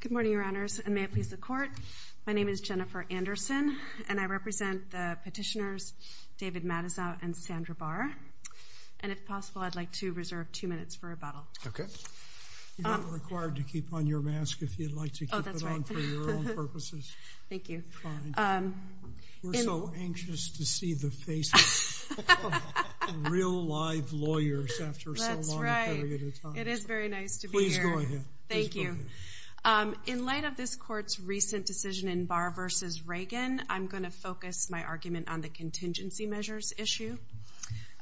Good morning your honors and may it please the court my name is Jennifer Anderson and I represent the petitioners David Matusow and Sandra Barr and if possible I'd like to reserve two minutes for rebuttal. Okay. You're not required to keep on your mask if you'd like to keep it on for your own purposes. Thank you. We're so anxious to see the you. In light of this court's recent decision in Barr v. Reagan I'm going to focus my argument on the contingency measures issue.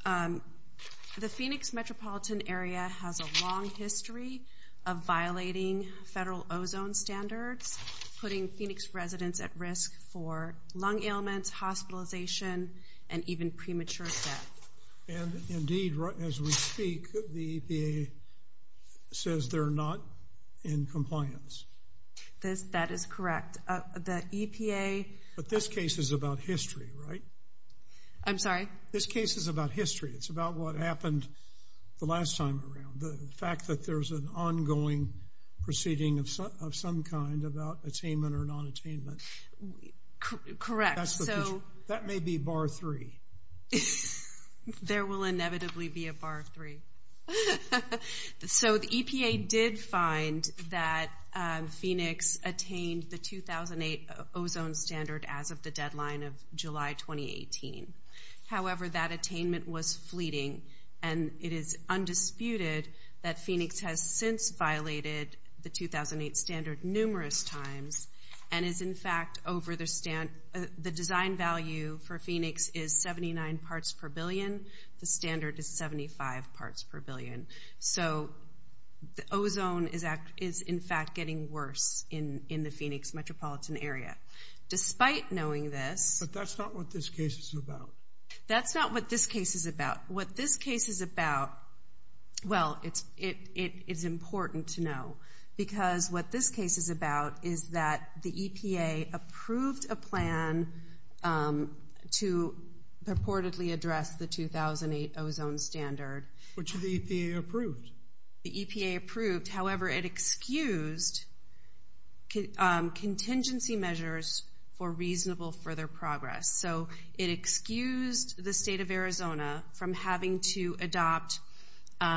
The Phoenix metropolitan area has a long history of violating federal ozone standards putting Phoenix residents at risk for lung ailments, hospitalization, and even premature death. And indeed right as we speak the EPA says they're not in compliance. That is correct. The EPA. But this case is about history right? I'm sorry. This case is about history. It's about what happened the last time around. The fact that there's an ongoing proceeding of some kind about attainment or non-attainment. Correct. That may be Barr 3. There will inevitably be a Barr 3. So the EPA did find that Phoenix attained the 2008 ozone standard as of the deadline of July 2018. However that attainment was fleeting and it is undisputed that Phoenix has since violated the 2008 standard numerous times and is in fact over their stand. The design value for Phoenix is 79 parts per billion. The standard is 75 parts per billion. So the ozone is in fact getting worse in the Phoenix metropolitan area. Despite knowing this. But that's not what this case is about. That's not what this case is about. What this case is about. Well it's it it is important to know because what this case is about is that the EPA approved a plan to purportedly address the 2008 ozone standard. Which the EPA approved? The EPA approved. However it excused contingency measures for reasonable further progress. So it excused the state of Arizona from having to adopt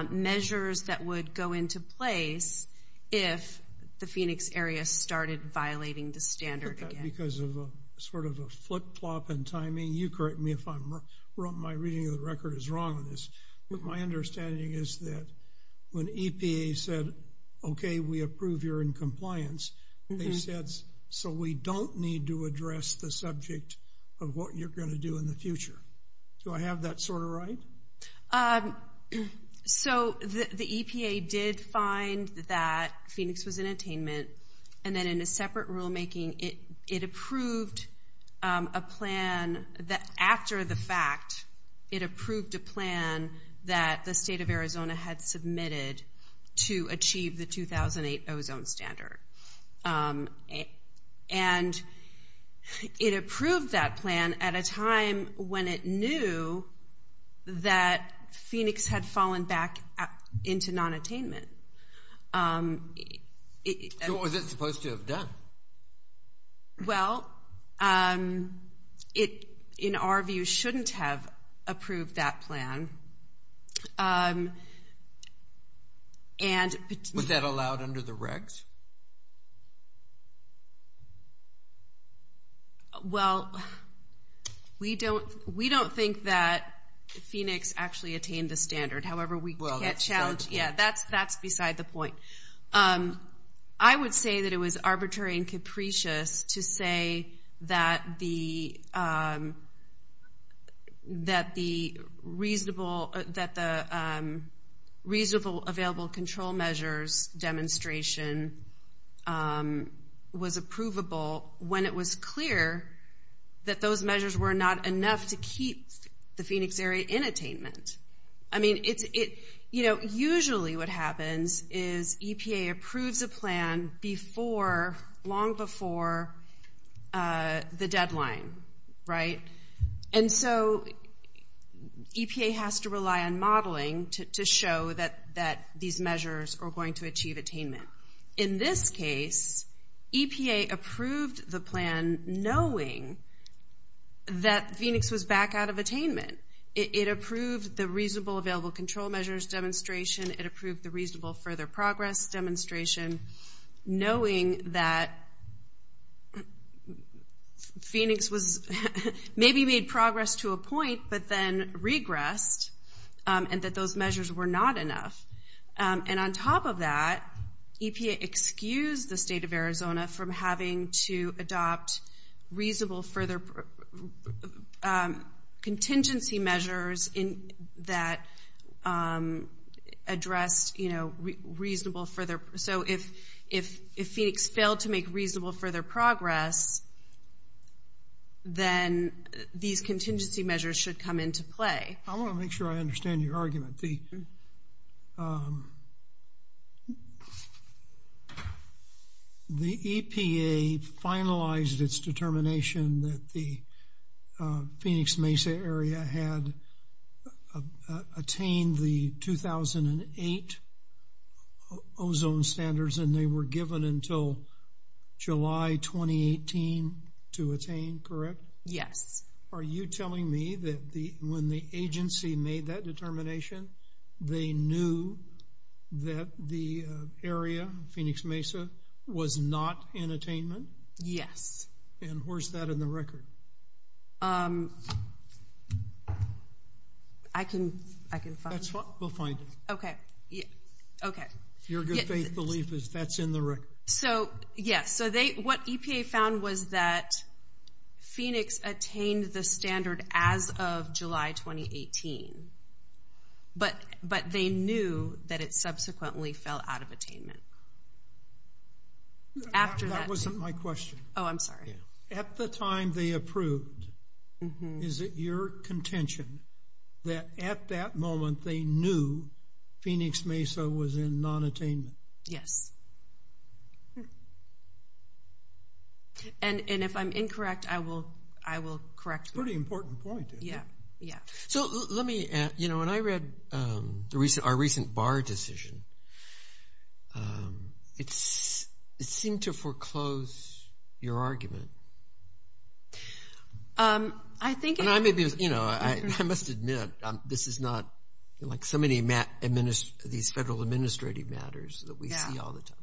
measures that would go into place if the Phoenix area started violating the standard again. Because of a sort of a flip-flop in timing. You correct me if I'm wrong. My reading of the record is wrong on this. But my understanding is that when EPA said okay we approve you're in compliance. They said so we don't need to address the subject of what you're going to do in the future. Do I have that sort of right? So the EPA did find that Phoenix was in separate rulemaking. It it approved a plan that after the fact it approved a plan that the state of Arizona had submitted to achieve the 2008 ozone standard. And it approved that plan at a time when it knew that Phoenix had Well it in our view shouldn't have approved that plan. And was that allowed under the regs? Well we don't we don't think that Phoenix actually attained the standard. However we can't challenge. Yeah that's that's beside the point. I would say that it was arbitrary and capricious to say that the that the reasonable that the reasonable available control measures demonstration was approvable when it was clear that those measures were not enough to keep the Phoenix area in attainment. I mean it's it you know usually what happens is EPA approves a plan before long before the deadline right? And so EPA has to rely on modeling to show that that these measures are going to achieve attainment. In this case EPA approved the plan knowing that Phoenix was back out of attainment. It approved the reasonable available control measures demonstration. It approved the knowing that Phoenix was maybe made progress to a point but then regressed and that those measures were not enough. And on top of that EPA excused the state of Arizona from having to adopt reasonable further contingency measures in that addressed you know reasonable further. So if if if Phoenix failed to make reasonable further progress then these contingency measures should come into play. I want to make sure I understand your argument. The EPA finalized its determination that the Phoenix Mesa area had attained the 2008 ozone standards and they were given until July 2018 to attain correct? Yes. Are you telling me that the when the agency made that determination they knew that the Yes. And where's that in the record? I can I can find it. We'll find it. Okay yeah okay. Your good faith belief is that's in the record. So yes so they what EPA found was that Phoenix attained the standard as of July 2018 but but they knew that it My question. Oh I'm sorry. At the time they approved is it your contention that at that moment they knew Phoenix Mesa was in non-attainment? Yes. And and if I'm incorrect I will I will correct. Pretty important point. Yeah yeah. So let me you know when I read the recent our recent bar decision it's it seemed to foreclose your argument. I think. I may be you know I must admit this is not like so many Matt administ these federal administrative matters that we see all the time.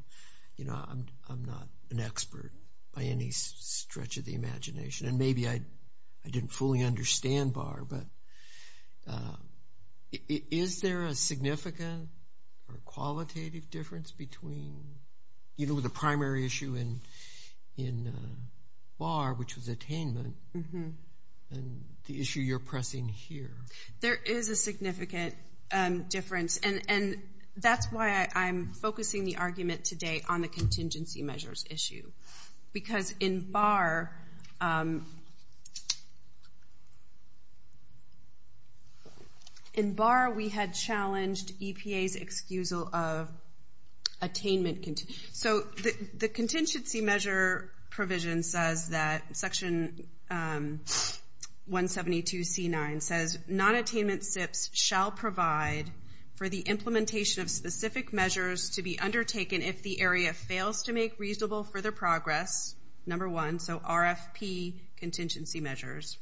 You know I'm not an expert by any stretch of the imagination and maybe I didn't fully understand BAR but is there a significant or qualitative difference between you know the primary issue and in BAR which was attainment mm-hmm and the issue you're pressing here? There is a significant difference and and that's why I'm focusing the argument today on the contingency measures issue because in BAR in BAR we had challenged EPA's excusal of attainment. So the the contingency measure provision says that section 172 c9 says non-attainment SIPs shall provide for the implementation of to make reasonable further progress number one so RFP contingency measures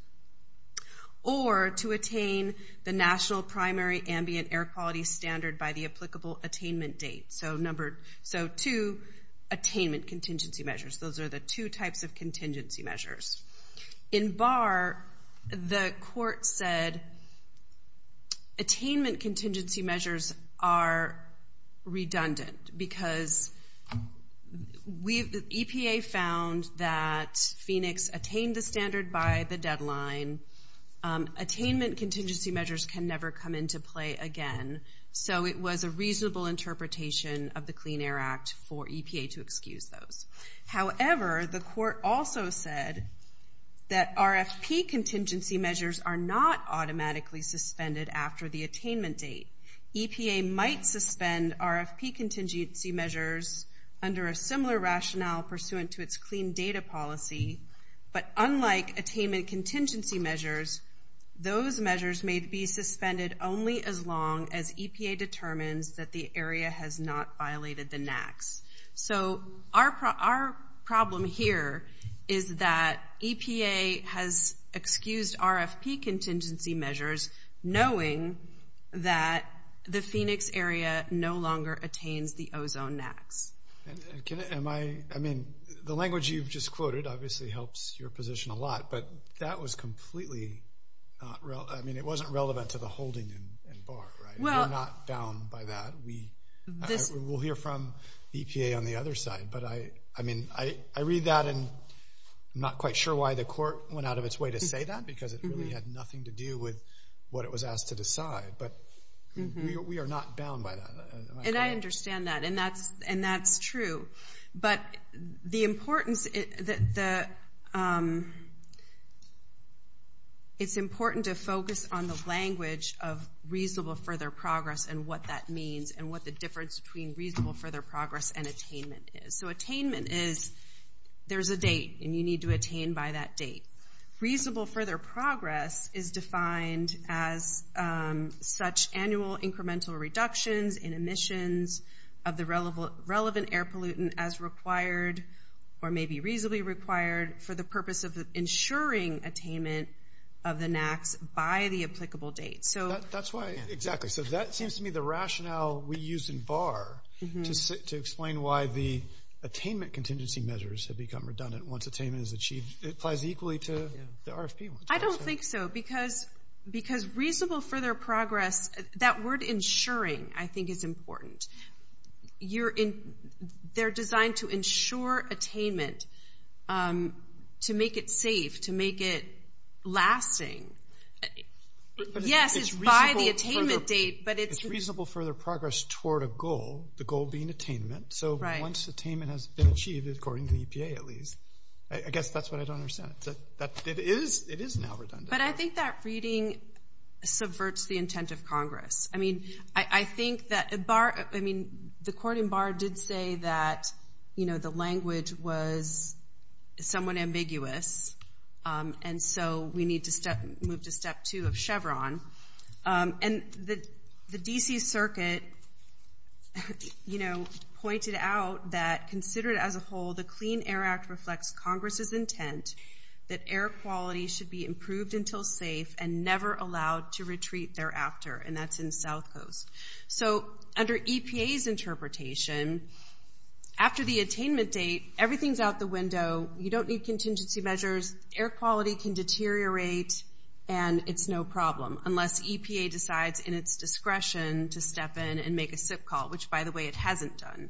or to attain the national primary ambient air quality standard by the applicable attainment date. So number so two attainment contingency measures those are the two types of contingency measures. In BAR the court said attainment EPA found that Phoenix attained the standard by the deadline attainment contingency measures can never come into play again so it was a reasonable interpretation of the Clean Air Act for EPA to excuse those. However the court also said that RFP contingency measures are not automatically suspended after the attainment date. EPA might suspend RFP contingency measures under a similar rationale pursuant to its clean data policy but unlike attainment contingency measures those measures may be suspended only as long as EPA determines that the area has not violated the NAAQS. So our problem here is that EPA has excused RFP contingency measures knowing that the Phoenix area no longer attains the ozone NAAQS. Am I I mean the language you've just quoted obviously helps your position a lot but that was completely not real I mean it wasn't relevant to the holding in BAR right? We're not bound by that. We will hear from EPA on the other side but I I mean I I read that and I'm not quite sure why the court went out of its way to say that because it really had nothing to do with what it was asked to decide but we are not bound by that. And I understand that and that's and that's true but the importance that the it's important to focus on the language of reasonable further progress and what that means and what the difference between reasonable further progress and attainment is. So attainment is there's a date and you need to attain by that date. Reasonable further progress is defined as such annual incremental reductions in emissions of the relevant relevant air pollutant as required or maybe reasonably required for the purpose of ensuring attainment of the NAAQS by the applicable date. So that's why exactly so that seems to me the rationale we use in BAR to explain why the attainment contingency measures have become redundant once attainment is achieved. It applies equally to the RFP. I don't think so because because reasonable further progress that word ensuring I think is important. You're in they're designed to ensure attainment to make it safe to make it lasting. Yes it's by the attainment date but it's reasonable further progress toward a goal. The goal being attainment. So once attainment has been achieved according to the EPA at least. I guess that's what I don't understand. It is it is now redundant. But I think that reading subverts the intent of Congress. I mean I think that a bar I mean the court in BAR did say that you know the language was somewhat ambiguous and so we need to step move to step two of Chevron. And the the DC Circuit you know pointed out that considered as a whole the Clean Air Act reflects Congress's intent that air quality should be improved until safe and never allowed to retreat thereafter and that's in South Coast. So under EPA's interpretation after the attainment date everything's out the window. You don't need contingency measures. Air quality can deteriorate and it's no problem unless EPA decides in its discretion to step in and make a SIP call which by the way it hasn't done.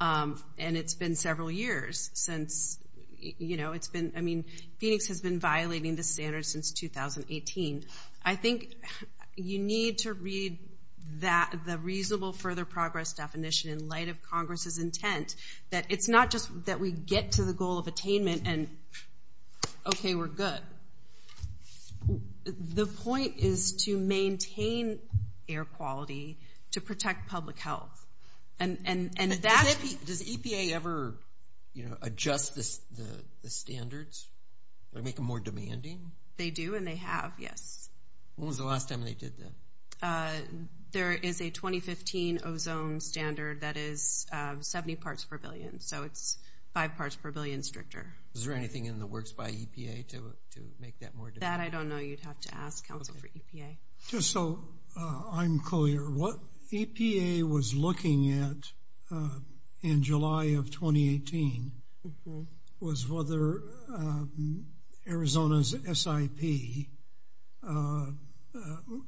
And it's been several years since you know it's been I mean Phoenix has been violating the standards since 2018. I think you need to read that the reasonable further progress definition in light of Congress's intent that it's not just that we get to the goal of attainment and okay we're good. The point is to maintain air quality to protect public health. And does EPA ever you know adjust the standards? Make them more demanding? They do and they have, yes. When was the last time they did that? There is a 2015 ozone standard that is 70 parts per billion so it's five parts per billion stricter. Is there anything in the works by EPA to make that more? That I don't know you'd have to ask Council for EPA. Just so I'm clear what EPA was looking at in July of 2018 was whether Arizona's SIP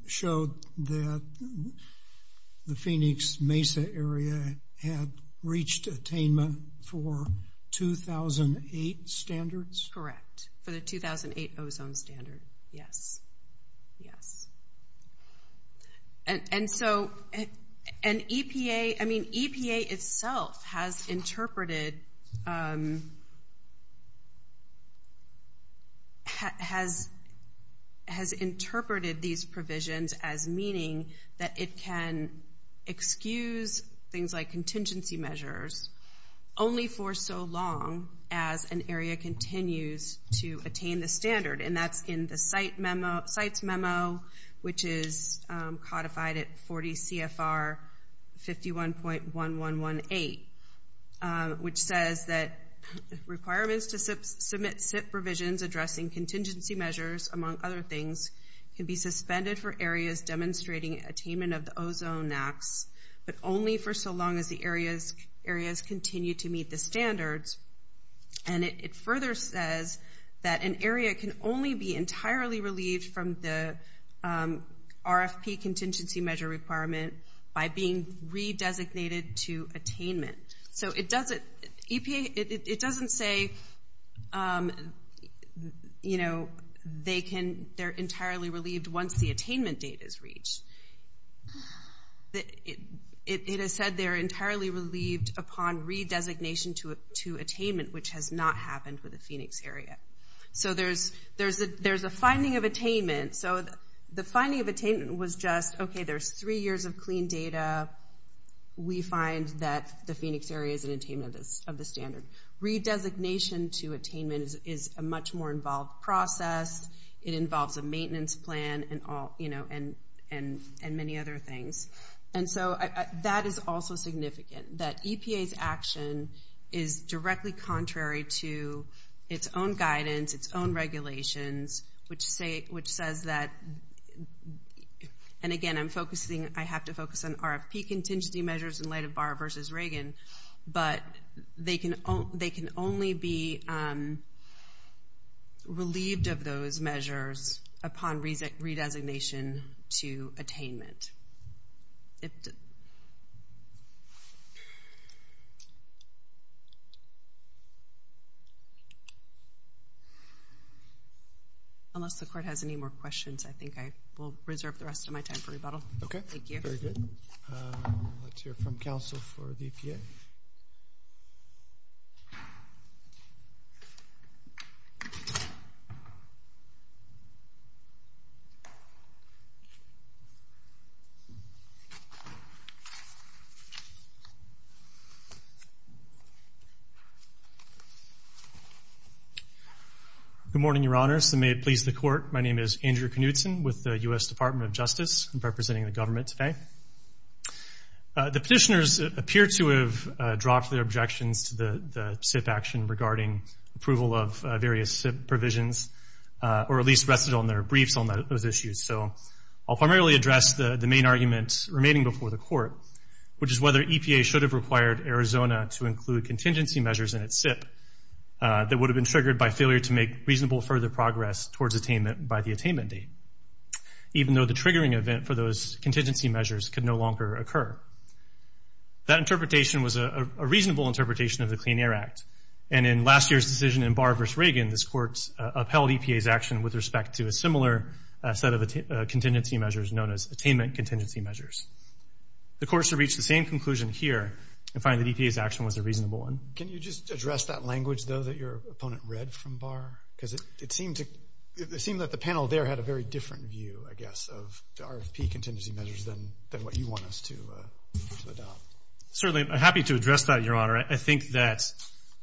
showed that the Phoenix Mesa area had reached attainment for 2008 standards? Correct, for the 2008 ozone standard. Yes, yes. And so an EPA I has interpreted these provisions as meaning that it can excuse things like contingency measures only for so long as an area continues to attain the standard and that's in the site memo sites memo which is codified at 40 CFR 51.1118 which says that requirements to submit SIP provisions addressing contingency measures among other things can be suspended for areas demonstrating attainment of the ozone max but only for so long as the areas areas continue to meet the standards and it further says that an area can only be entirely relieved from the RFP contingency measure requirement by being re-designated to attainment. So it doesn't EPA it doesn't say you know they can they're entirely relieved once the attainment date is reached. It has said they're entirely relieved upon re-designation to attainment which has not happened with the Phoenix area. So there's there's a there's a finding of attainment so the finding of attainment was just okay there's three years of clean data we find that the Phoenix area is an attainment of the standard. Re-designation to attainment is a much more involved process. It involves a maintenance plan and all you know and and and many other things and so that is also significant that EPA's action is directly contrary to its own guidance its own regulations which say which says that and again I'm focusing I have to focus on RFP contingency measures in light of Barr versus Reagan but they can they can only be relieved of those measures upon re-designation to attainment. Unless the court has any more questions I think I will reserve the rest of my time for rebuttal. Okay thank you. Very good. Let's hear from counsel for the EPA. Good morning your honors and may it please the court my name is Andrew Knutson with the U.S. Department of Justice. I'm representing the government today. The petitioners appear to have dropped their objections to the SIF action regarding approval of various SIP provisions or at least rested on their briefs on those issues so I'll primarily address the the main argument remaining before the court which is whether EPA should have required Arizona to include contingency measures in its SIP that would have been triggered by failure to make reasonable further progress towards attainment by the attainment date even though the triggering event for those contingency measures could no longer occur. That interpretation was a reasonable interpretation of the Clean Air Act and in last year's decision in Barr v. Reagan this courts upheld EPA's action with respect to a similar set of contingency measures known as attainment contingency measures. The courts have reached the same conclusion here and find that EPA's action was a reasonable one. Can you just address that language though that your opponent read from Barr because it seemed to seem that the panel there had a very different view I guess of the RFP contingency measures than what you want us to adopt. Certainly I'm happy to address that your honor. I think that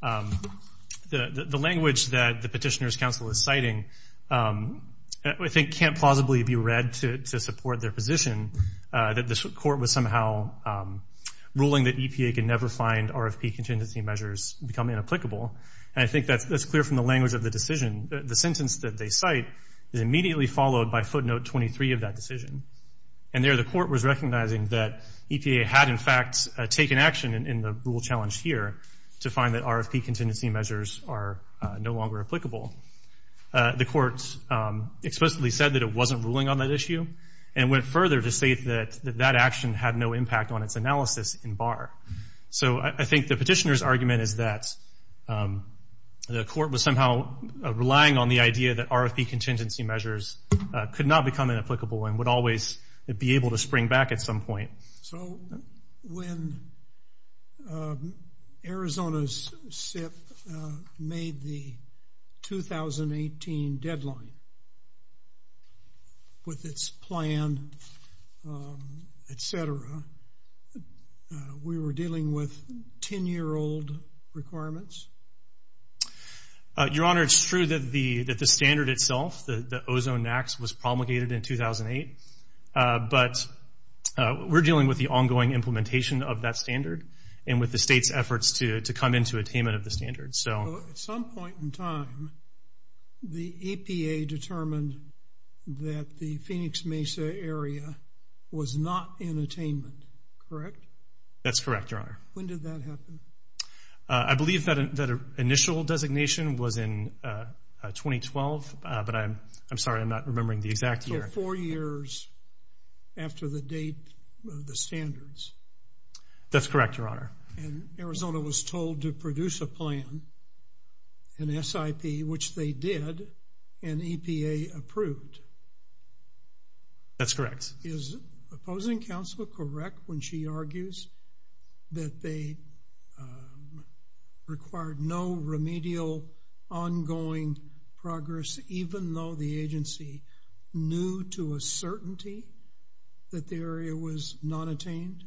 the language that the Petitioners Council is citing I think can't plausibly be read to support their position that this court was somehow ruling that EPA can never find RFP contingency measures become inapplicable and I think that's clear from the language of the decision. The sentence that they cite is immediately followed by footnote 23 of that decision and there the court was recognizing that EPA had in fact taken action in the rule challenge here to find that RFP contingency measures are no longer applicable. The courts explicitly said that it wasn't ruling on that issue and went further to state that that action had no impact on its analysis in Barr. So I think the petitioner's argument is that the court was somehow relying on the idea that RFP contingency measures could not become inapplicable and would always be able to spring back at some point. So when Arizona's SIPP made the 2018 deadline with its plan etc we were dealing with ten-year-old requirements? Your honor it's true that the that the standard itself the ozone acts was promulgated in 2008 but we're dealing with the ongoing implementation of that standard and with the state's efforts to to come into attainment of the standard. So at some point in time the EPA determined that the Phoenix Mesa area was not in attainment correct? That's correct your honor. When did that happen? I believe that an initial designation was in 2012 but I'm I'm sorry I'm not remembering the exact year. So four years after the date of the standards? That's correct your honor. And Arizona was told to produce a plan an SIP which they did and EPA approved? That's correct. Is remedial ongoing progress even though the agency knew to a certainty that the area was not attained?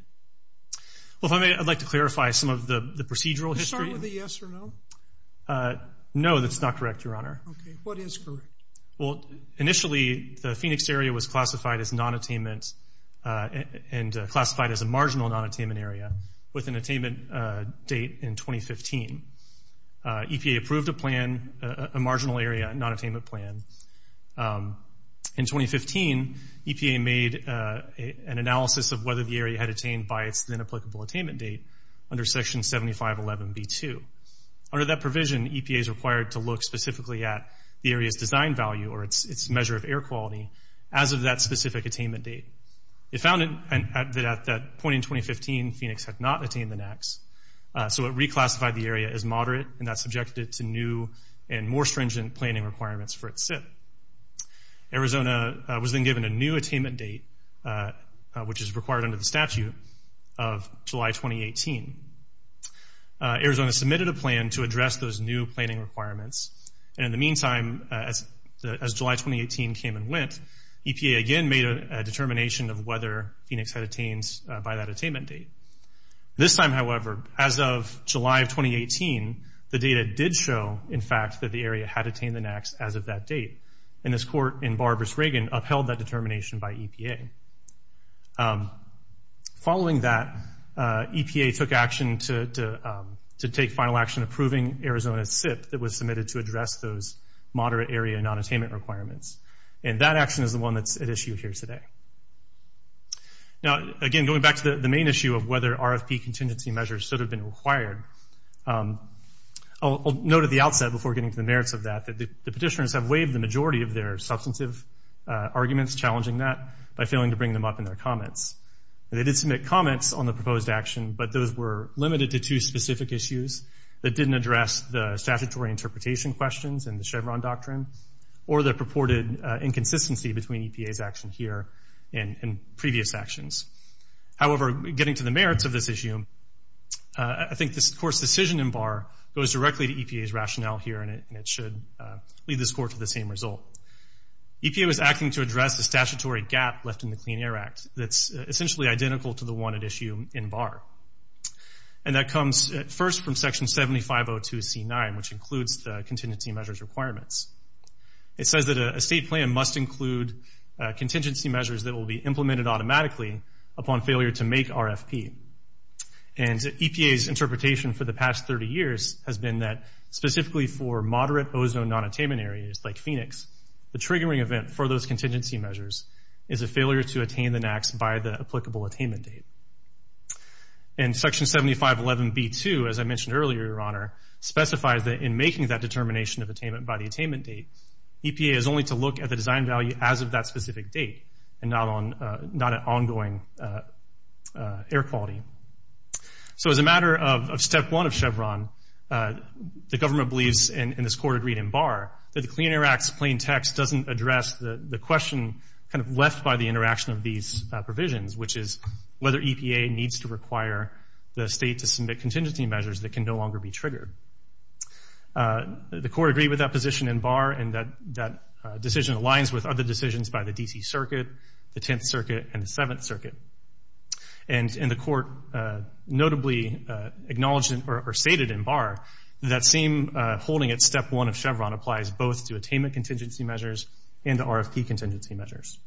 Well if I may I'd like to clarify some of the the procedural history. Start with a yes or no. No that's not correct your honor. Okay what is correct? Well initially the Phoenix area was classified as non attainment and classified as a marginal non attainment area with an attainment date in 2015. EPA approved a plan a marginal area non attainment plan. In 2015 EPA made an analysis of whether the area had attained by its then applicable attainment date under section 7511 B2. Under that provision EPA is required to look specifically at the area's design value or its measure of air quality as of that specific attainment date. It found that at that point in 2015 Phoenix had not attained the NAAQS. So it reclassified the area as moderate and that subjected it to new and more stringent planning requirements for its SIP. Arizona was then given a new attainment date which is required under the statute of July 2018. Arizona submitted a plan to address those new planning requirements and in the meantime as July 2018 came and went EPA again made a determination of whether Phoenix had attained by that attainment date. This time however as of July of 2018 the data did show in fact that the area had attained the NAAQS as of that date and this court in Barbras-Reagan upheld that determination by EPA. Following that EPA took action to take final action approving Arizona's SIP that was submitted to address those moderate area non attainment requirements and that action is the one that's at issue here today. Now again going back to the the main issue of whether RFP contingency measures should have been required. I'll note at the outset before getting to the merits of that that the petitioners have waived the majority of their substantive arguments challenging that by failing to bring them up in their comments. They did submit comments on the proposed action but those were limited to two specific issues that didn't address the statutory interpretation questions and the Chevron doctrine or the purported inconsistency between EPA's action here and previous actions. However getting to the merits of this issue I think this court's decision in Barr goes directly to EPA's rationale here and it should lead this court to the same result. EPA was acting to address the statutory gap left in the Clean Air Act that's essentially identical to the one at issue in Barr and that comes first from section 7502 c9 which includes the contingency measures requirements. It says that a state plan must include contingency measures that will be implemented automatically upon failure to make RFP. And EPA's interpretation for the past 30 years has been that specifically for moderate ozone non-attainment areas like Phoenix the triggering event for those contingency measures is a failure to attain the NAAQS by the applicable attainment date. And section 7511 b2 as I mentioned earlier your honor specifies that in making that determination of at the design value as of that specific date and not on not an ongoing air quality. So as a matter of step one of Chevron the government believes in this court agreed in Barr that the Clean Air Act's plain text doesn't address the the question kind of left by the interaction of these provisions which is whether EPA needs to require the state to submit contingency measures that can no longer be triggered. The court agreed with that position in Barr and that decision aligns with other decisions by the DC circuit, the 10th circuit, and the 7th circuit. And in the court notably acknowledged or stated in Barr that same holding at step one of Chevron applies both to attainment contingency measures and RFP contingency measures.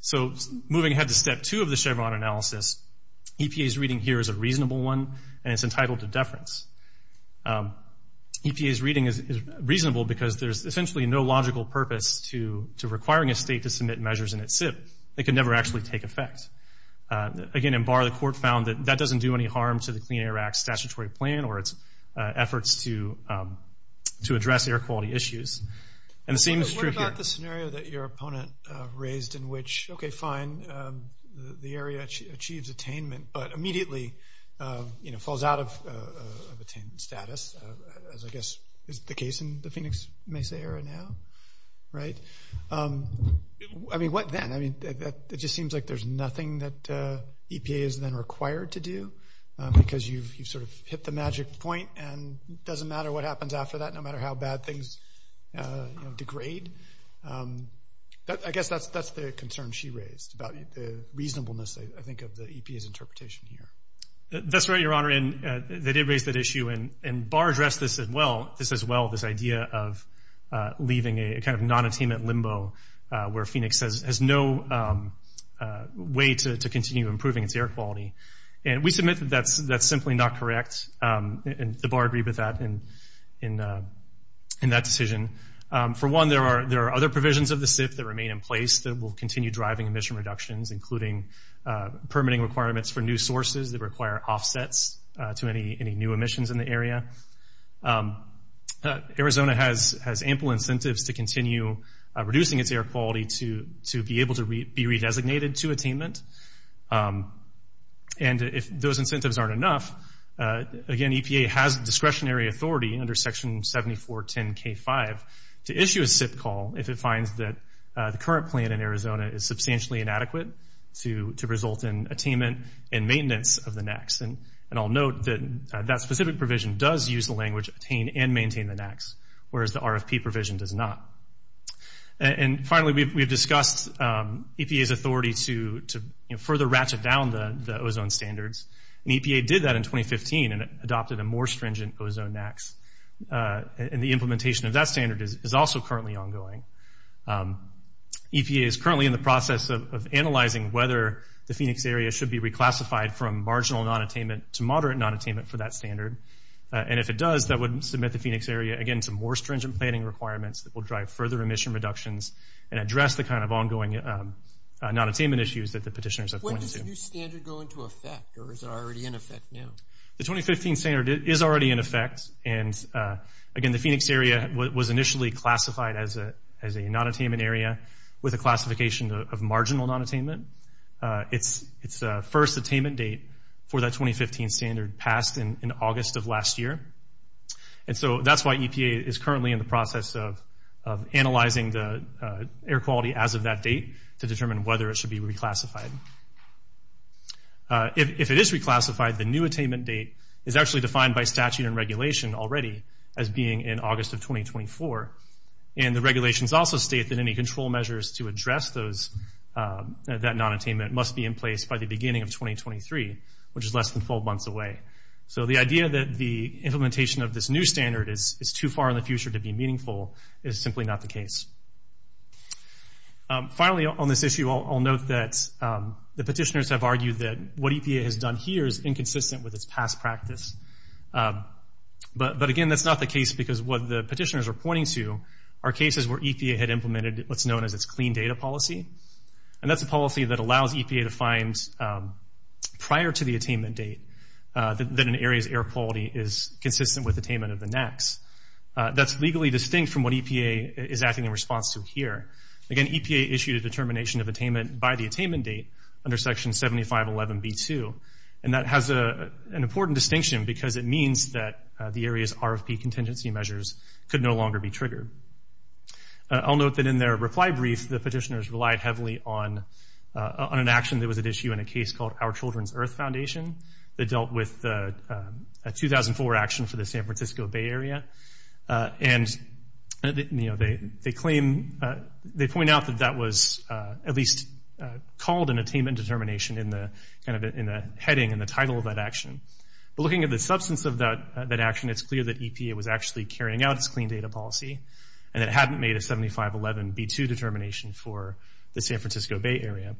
So moving ahead to step two of the Chevron analysis EPA's reading here is a reasonable one and it's entitled to deference. EPA's reading is reasonable because there's essentially no logical purpose to to requiring a state to submit measures in its SIP. It could never actually take effect. Again in Barr the court found that that doesn't do any harm to the Clean Air Act statutory plan or its efforts to to address air quality issues. And it seems true here. What about the scenario that your opponent raised in which okay fine the area achieves attainment but immediately you know falls out of attainment status as I Right. I mean what then? I mean it just seems like there's nothing that EPA is then required to do because you've sort of hit the magic point and doesn't matter what happens after that no matter how bad things degrade. I guess that's that's the concern she raised about the reasonableness I think of the EPA's interpretation here. That's right your honor and they did raise that issue and this as well this idea of leaving a kind of non-attainment limbo where Phoenix has no way to continue improving its air quality. And we submit that that's that's simply not correct and the Barr agree with that in in in that decision. For one there are there are other provisions of the SIP that remain in place that will continue driving emission reductions including permitting requirements for new sources that require offsets to any any new emissions in the area. Arizona has has ample incentives to continue reducing its air quality to to be able to be re-designated to attainment and if those incentives aren't enough again EPA has discretionary authority under section 7410 k5 to issue a SIP call if it finds that the current plan in Arizona is substantially inadequate to to result in attainment and maintenance of the NACs and and I'll note that that specific provision does use the language attain and maintain the NACs whereas the RFP provision does not. And finally we've discussed EPA's authority to further ratchet down the ozone standards and EPA did that in 2015 and adopted a more stringent ozone NACs and the implementation of that standard is also currently ongoing. EPA is currently in the process of analyzing whether the Phoenix area should be reclassified from marginal non-attainment to moderate non-attainment for that standard and if it does that would submit the Phoenix area again some more stringent planning requirements that will drive further emission reductions and address the kind of ongoing non-attainment issues that the petitioners have pointed to. When does the new standard go into effect or is it already in effect now? The 2015 standard is already in effect and again the Phoenix area was initially classified as a as a non-attainment area with a classification of marginal non-attainment. It's its first attainment date for that 2015 standard passed in August of last year and so that's why EPA is currently in the process of analyzing the air quality as of that date to determine whether it should be reclassified. If it is reclassified the new attainment date is actually defined by statute and regulation already as being in August of 2024 and the regulations also state that any control measures to address those that non-attainment must be in place by the beginning of 2023 which is less than 12 months away. So the idea that the implementation of this new standard is it's too far in the future to be meaningful is simply not the case. Finally on this issue I'll note that the petitioners have argued that what EPA has done here is inconsistent with its past practice but again that's not the case because what the petitioners are pointing to are cases where EPA had a policy that allows EPA to find prior to the attainment date that an area's air quality is consistent with attainment of the next. That's legally distinct from what EPA is acting in response to here. Again EPA issued a determination of attainment by the attainment date under section 7511 B2 and that has a an important distinction because it means that the area's RFP contingency measures could no longer be triggered. I'll note that in their reply brief the petitioners relied heavily on an action that was at issue in a case called Our Children's Earth Foundation that dealt with a 2004 action for the San Francisco Bay Area and they claim, they point out that that was at least called an attainment determination in the heading and the title of that action. Looking at the substance of that action it's clear that EPA was actually carrying out its clean data policy and it hadn't made a 7511 B2 determination for the San Francisco Bay Area.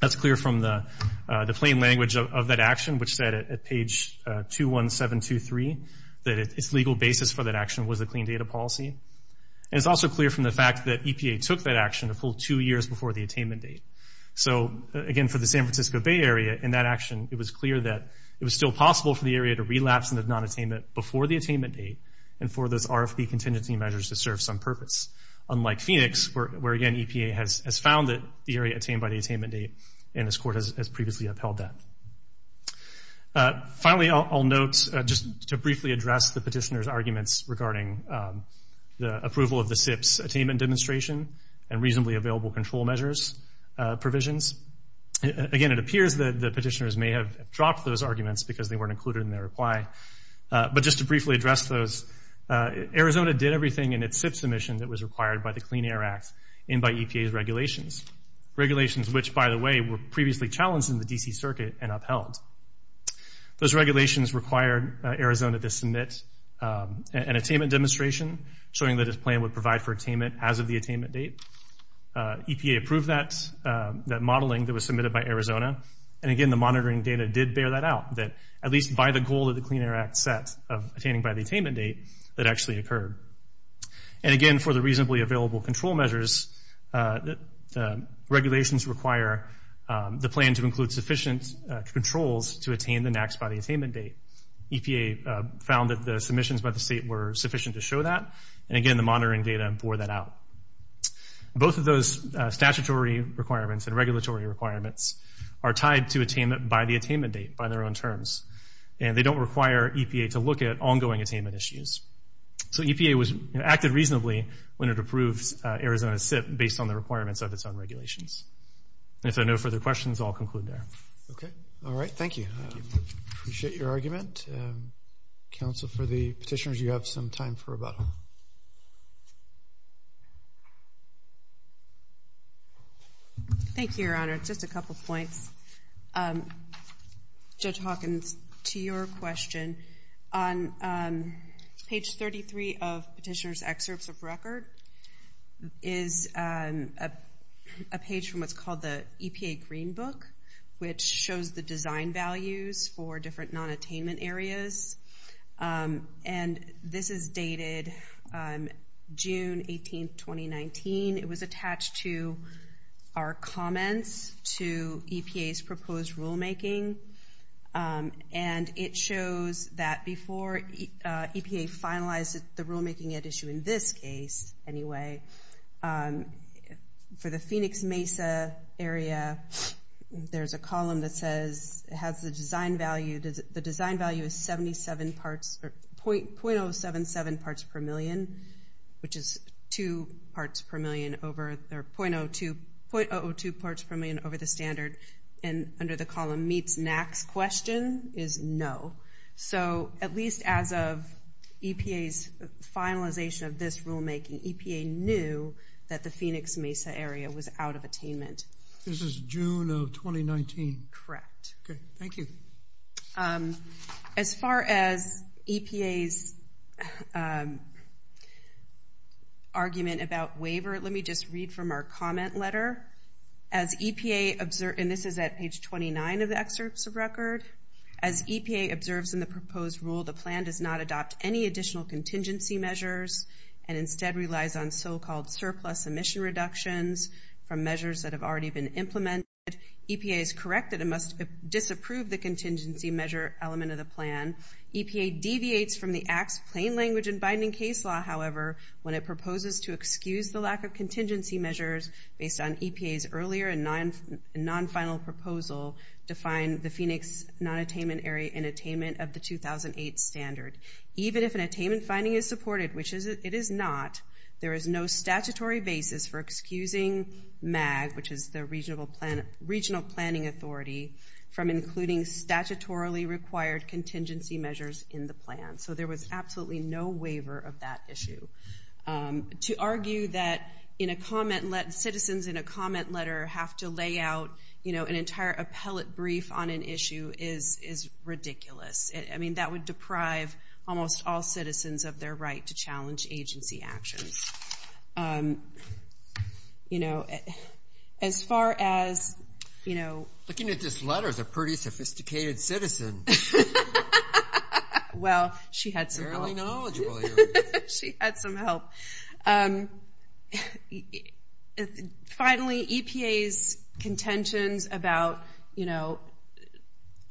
That's clear from the the plain language of that action which said at page 21723 that its legal basis for that action was a clean data policy. It's also clear from the fact that EPA took that action a full two years before the attainment date. So again for the San Francisco Bay Area in that action it was clear that it was still possible for the area to relapse in the non-attainment before the attainment date and for those where again EPA has found that the area attained by the attainment date and this court has previously upheld that. Finally I'll note just to briefly address the petitioners arguments regarding the approval of the SIPs attainment demonstration and reasonably available control measures provisions. Again it appears that the petitioners may have dropped those arguments because they weren't included in their reply but just to briefly address those, Arizona did everything in its SIP submission that was required by the Clean Air Act and by EPA's regulations. Regulations which by the way were previously challenged in the DC Circuit and upheld. Those regulations required Arizona to submit an attainment demonstration showing that its plan would provide for attainment as of the attainment date. EPA approved that that modeling that was submitted by Arizona and again the monitoring data did bear that out that at least by the goal of the Clean Air Act set of attaining by the attainment date that actually occurred. And again for the reasonably available control measures regulations require the plan to include sufficient controls to attain the NAAQS by the attainment date. EPA found that the submissions by the state were sufficient to show that and again the monitoring data bore that out. Both of those statutory requirements and regulatory requirements are tied to attainment by the attainment date by their own terms and they don't require EPA to look at ongoing attainment issues. So EPA was acted reasonably when it approves Arizona's SIP based on the requirements of its own regulations. If there are no further questions I'll conclude there. Okay all right thank you. Appreciate your argument. Counsel for the petitioners you have some time for rebuttal. Thank you your honor. Just a couple points. Judge Hawkins to your question. On page 33 of petitioners excerpts of record is a page from what's called the EPA green book which shows the design values for different non-attainment areas and this is dated June 18th 2019. It was attached to our that before EPA finalized the rulemaking at issue in this case anyway for the Phoenix Mesa area there's a column that says it has the design value does the design value is 77 parts or 0.077 parts per million which is 2 parts per million over there 0.002 parts per million over the standard and the column meets NAC's question is no. So at least as of EPA's finalization of this rulemaking EPA knew that the Phoenix Mesa area was out of attainment. This is June of 2019. Correct. Okay thank you. As far as EPA's argument about waiver let me just read from our comment letter. As EPA observed and this is at page 29 of the excerpts of record. As EPA observes in the proposed rule the plan does not adopt any additional contingency measures and instead relies on so-called surplus emission reductions from measures that have already been implemented. EPA is correct that it must disapprove the contingency measure element of the plan. EPA deviates from the acts plain language and binding case law however when it proposes to excuse the lack of contingency measures based on EPA's earlier and non-final proposal to find the Phoenix non-attainment area in attainment of the 2008 standard. Even if an attainment finding is supported, which it is not, there is no statutory basis for excusing MAG which is the regional planning authority from including statutorily required contingency measures in the plan. So there was absolutely no waiver of that issue. To argue that citizens in a comment letter have to lay out you know an entire appellate brief on an issue is is ridiculous. I mean that would deprive almost all citizens of their right to challenge agency actions. You know as far as you know... Looking at this letter is a pretty sophisticated citizen. Well she had some help. She had some help. Finally EPA's contentions about you know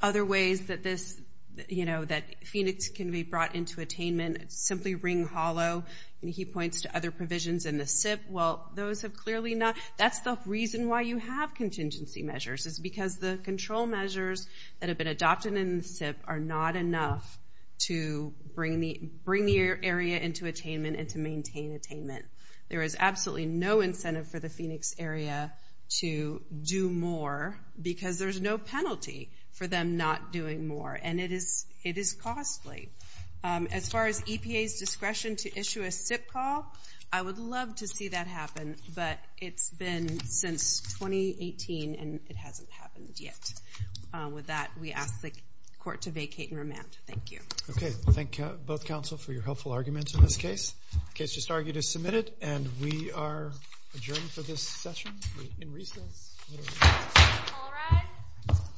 other ways that this you know that Phoenix can be brought into attainment simply ring hollow and he points to other provisions in the SIP well those have clearly not that's the reason why you have contingency measures is because the control measures that have been adopted in the SIP are not enough to bring the bring the area into attainment and to maintain attainment. There is absolutely no incentive for the Phoenix area to do more because there's no penalty for them not doing more and it is it is costly. As far as EPA's discretion to issue a SIP call, I would love to see that happen but it's been since 2018 and it hasn't happened yet. With that we ask the court to vacate and remand. Thank you. Okay thank you both counsel for your helpful arguments in this case. The case just argued is submitted and we are adjourned for this session.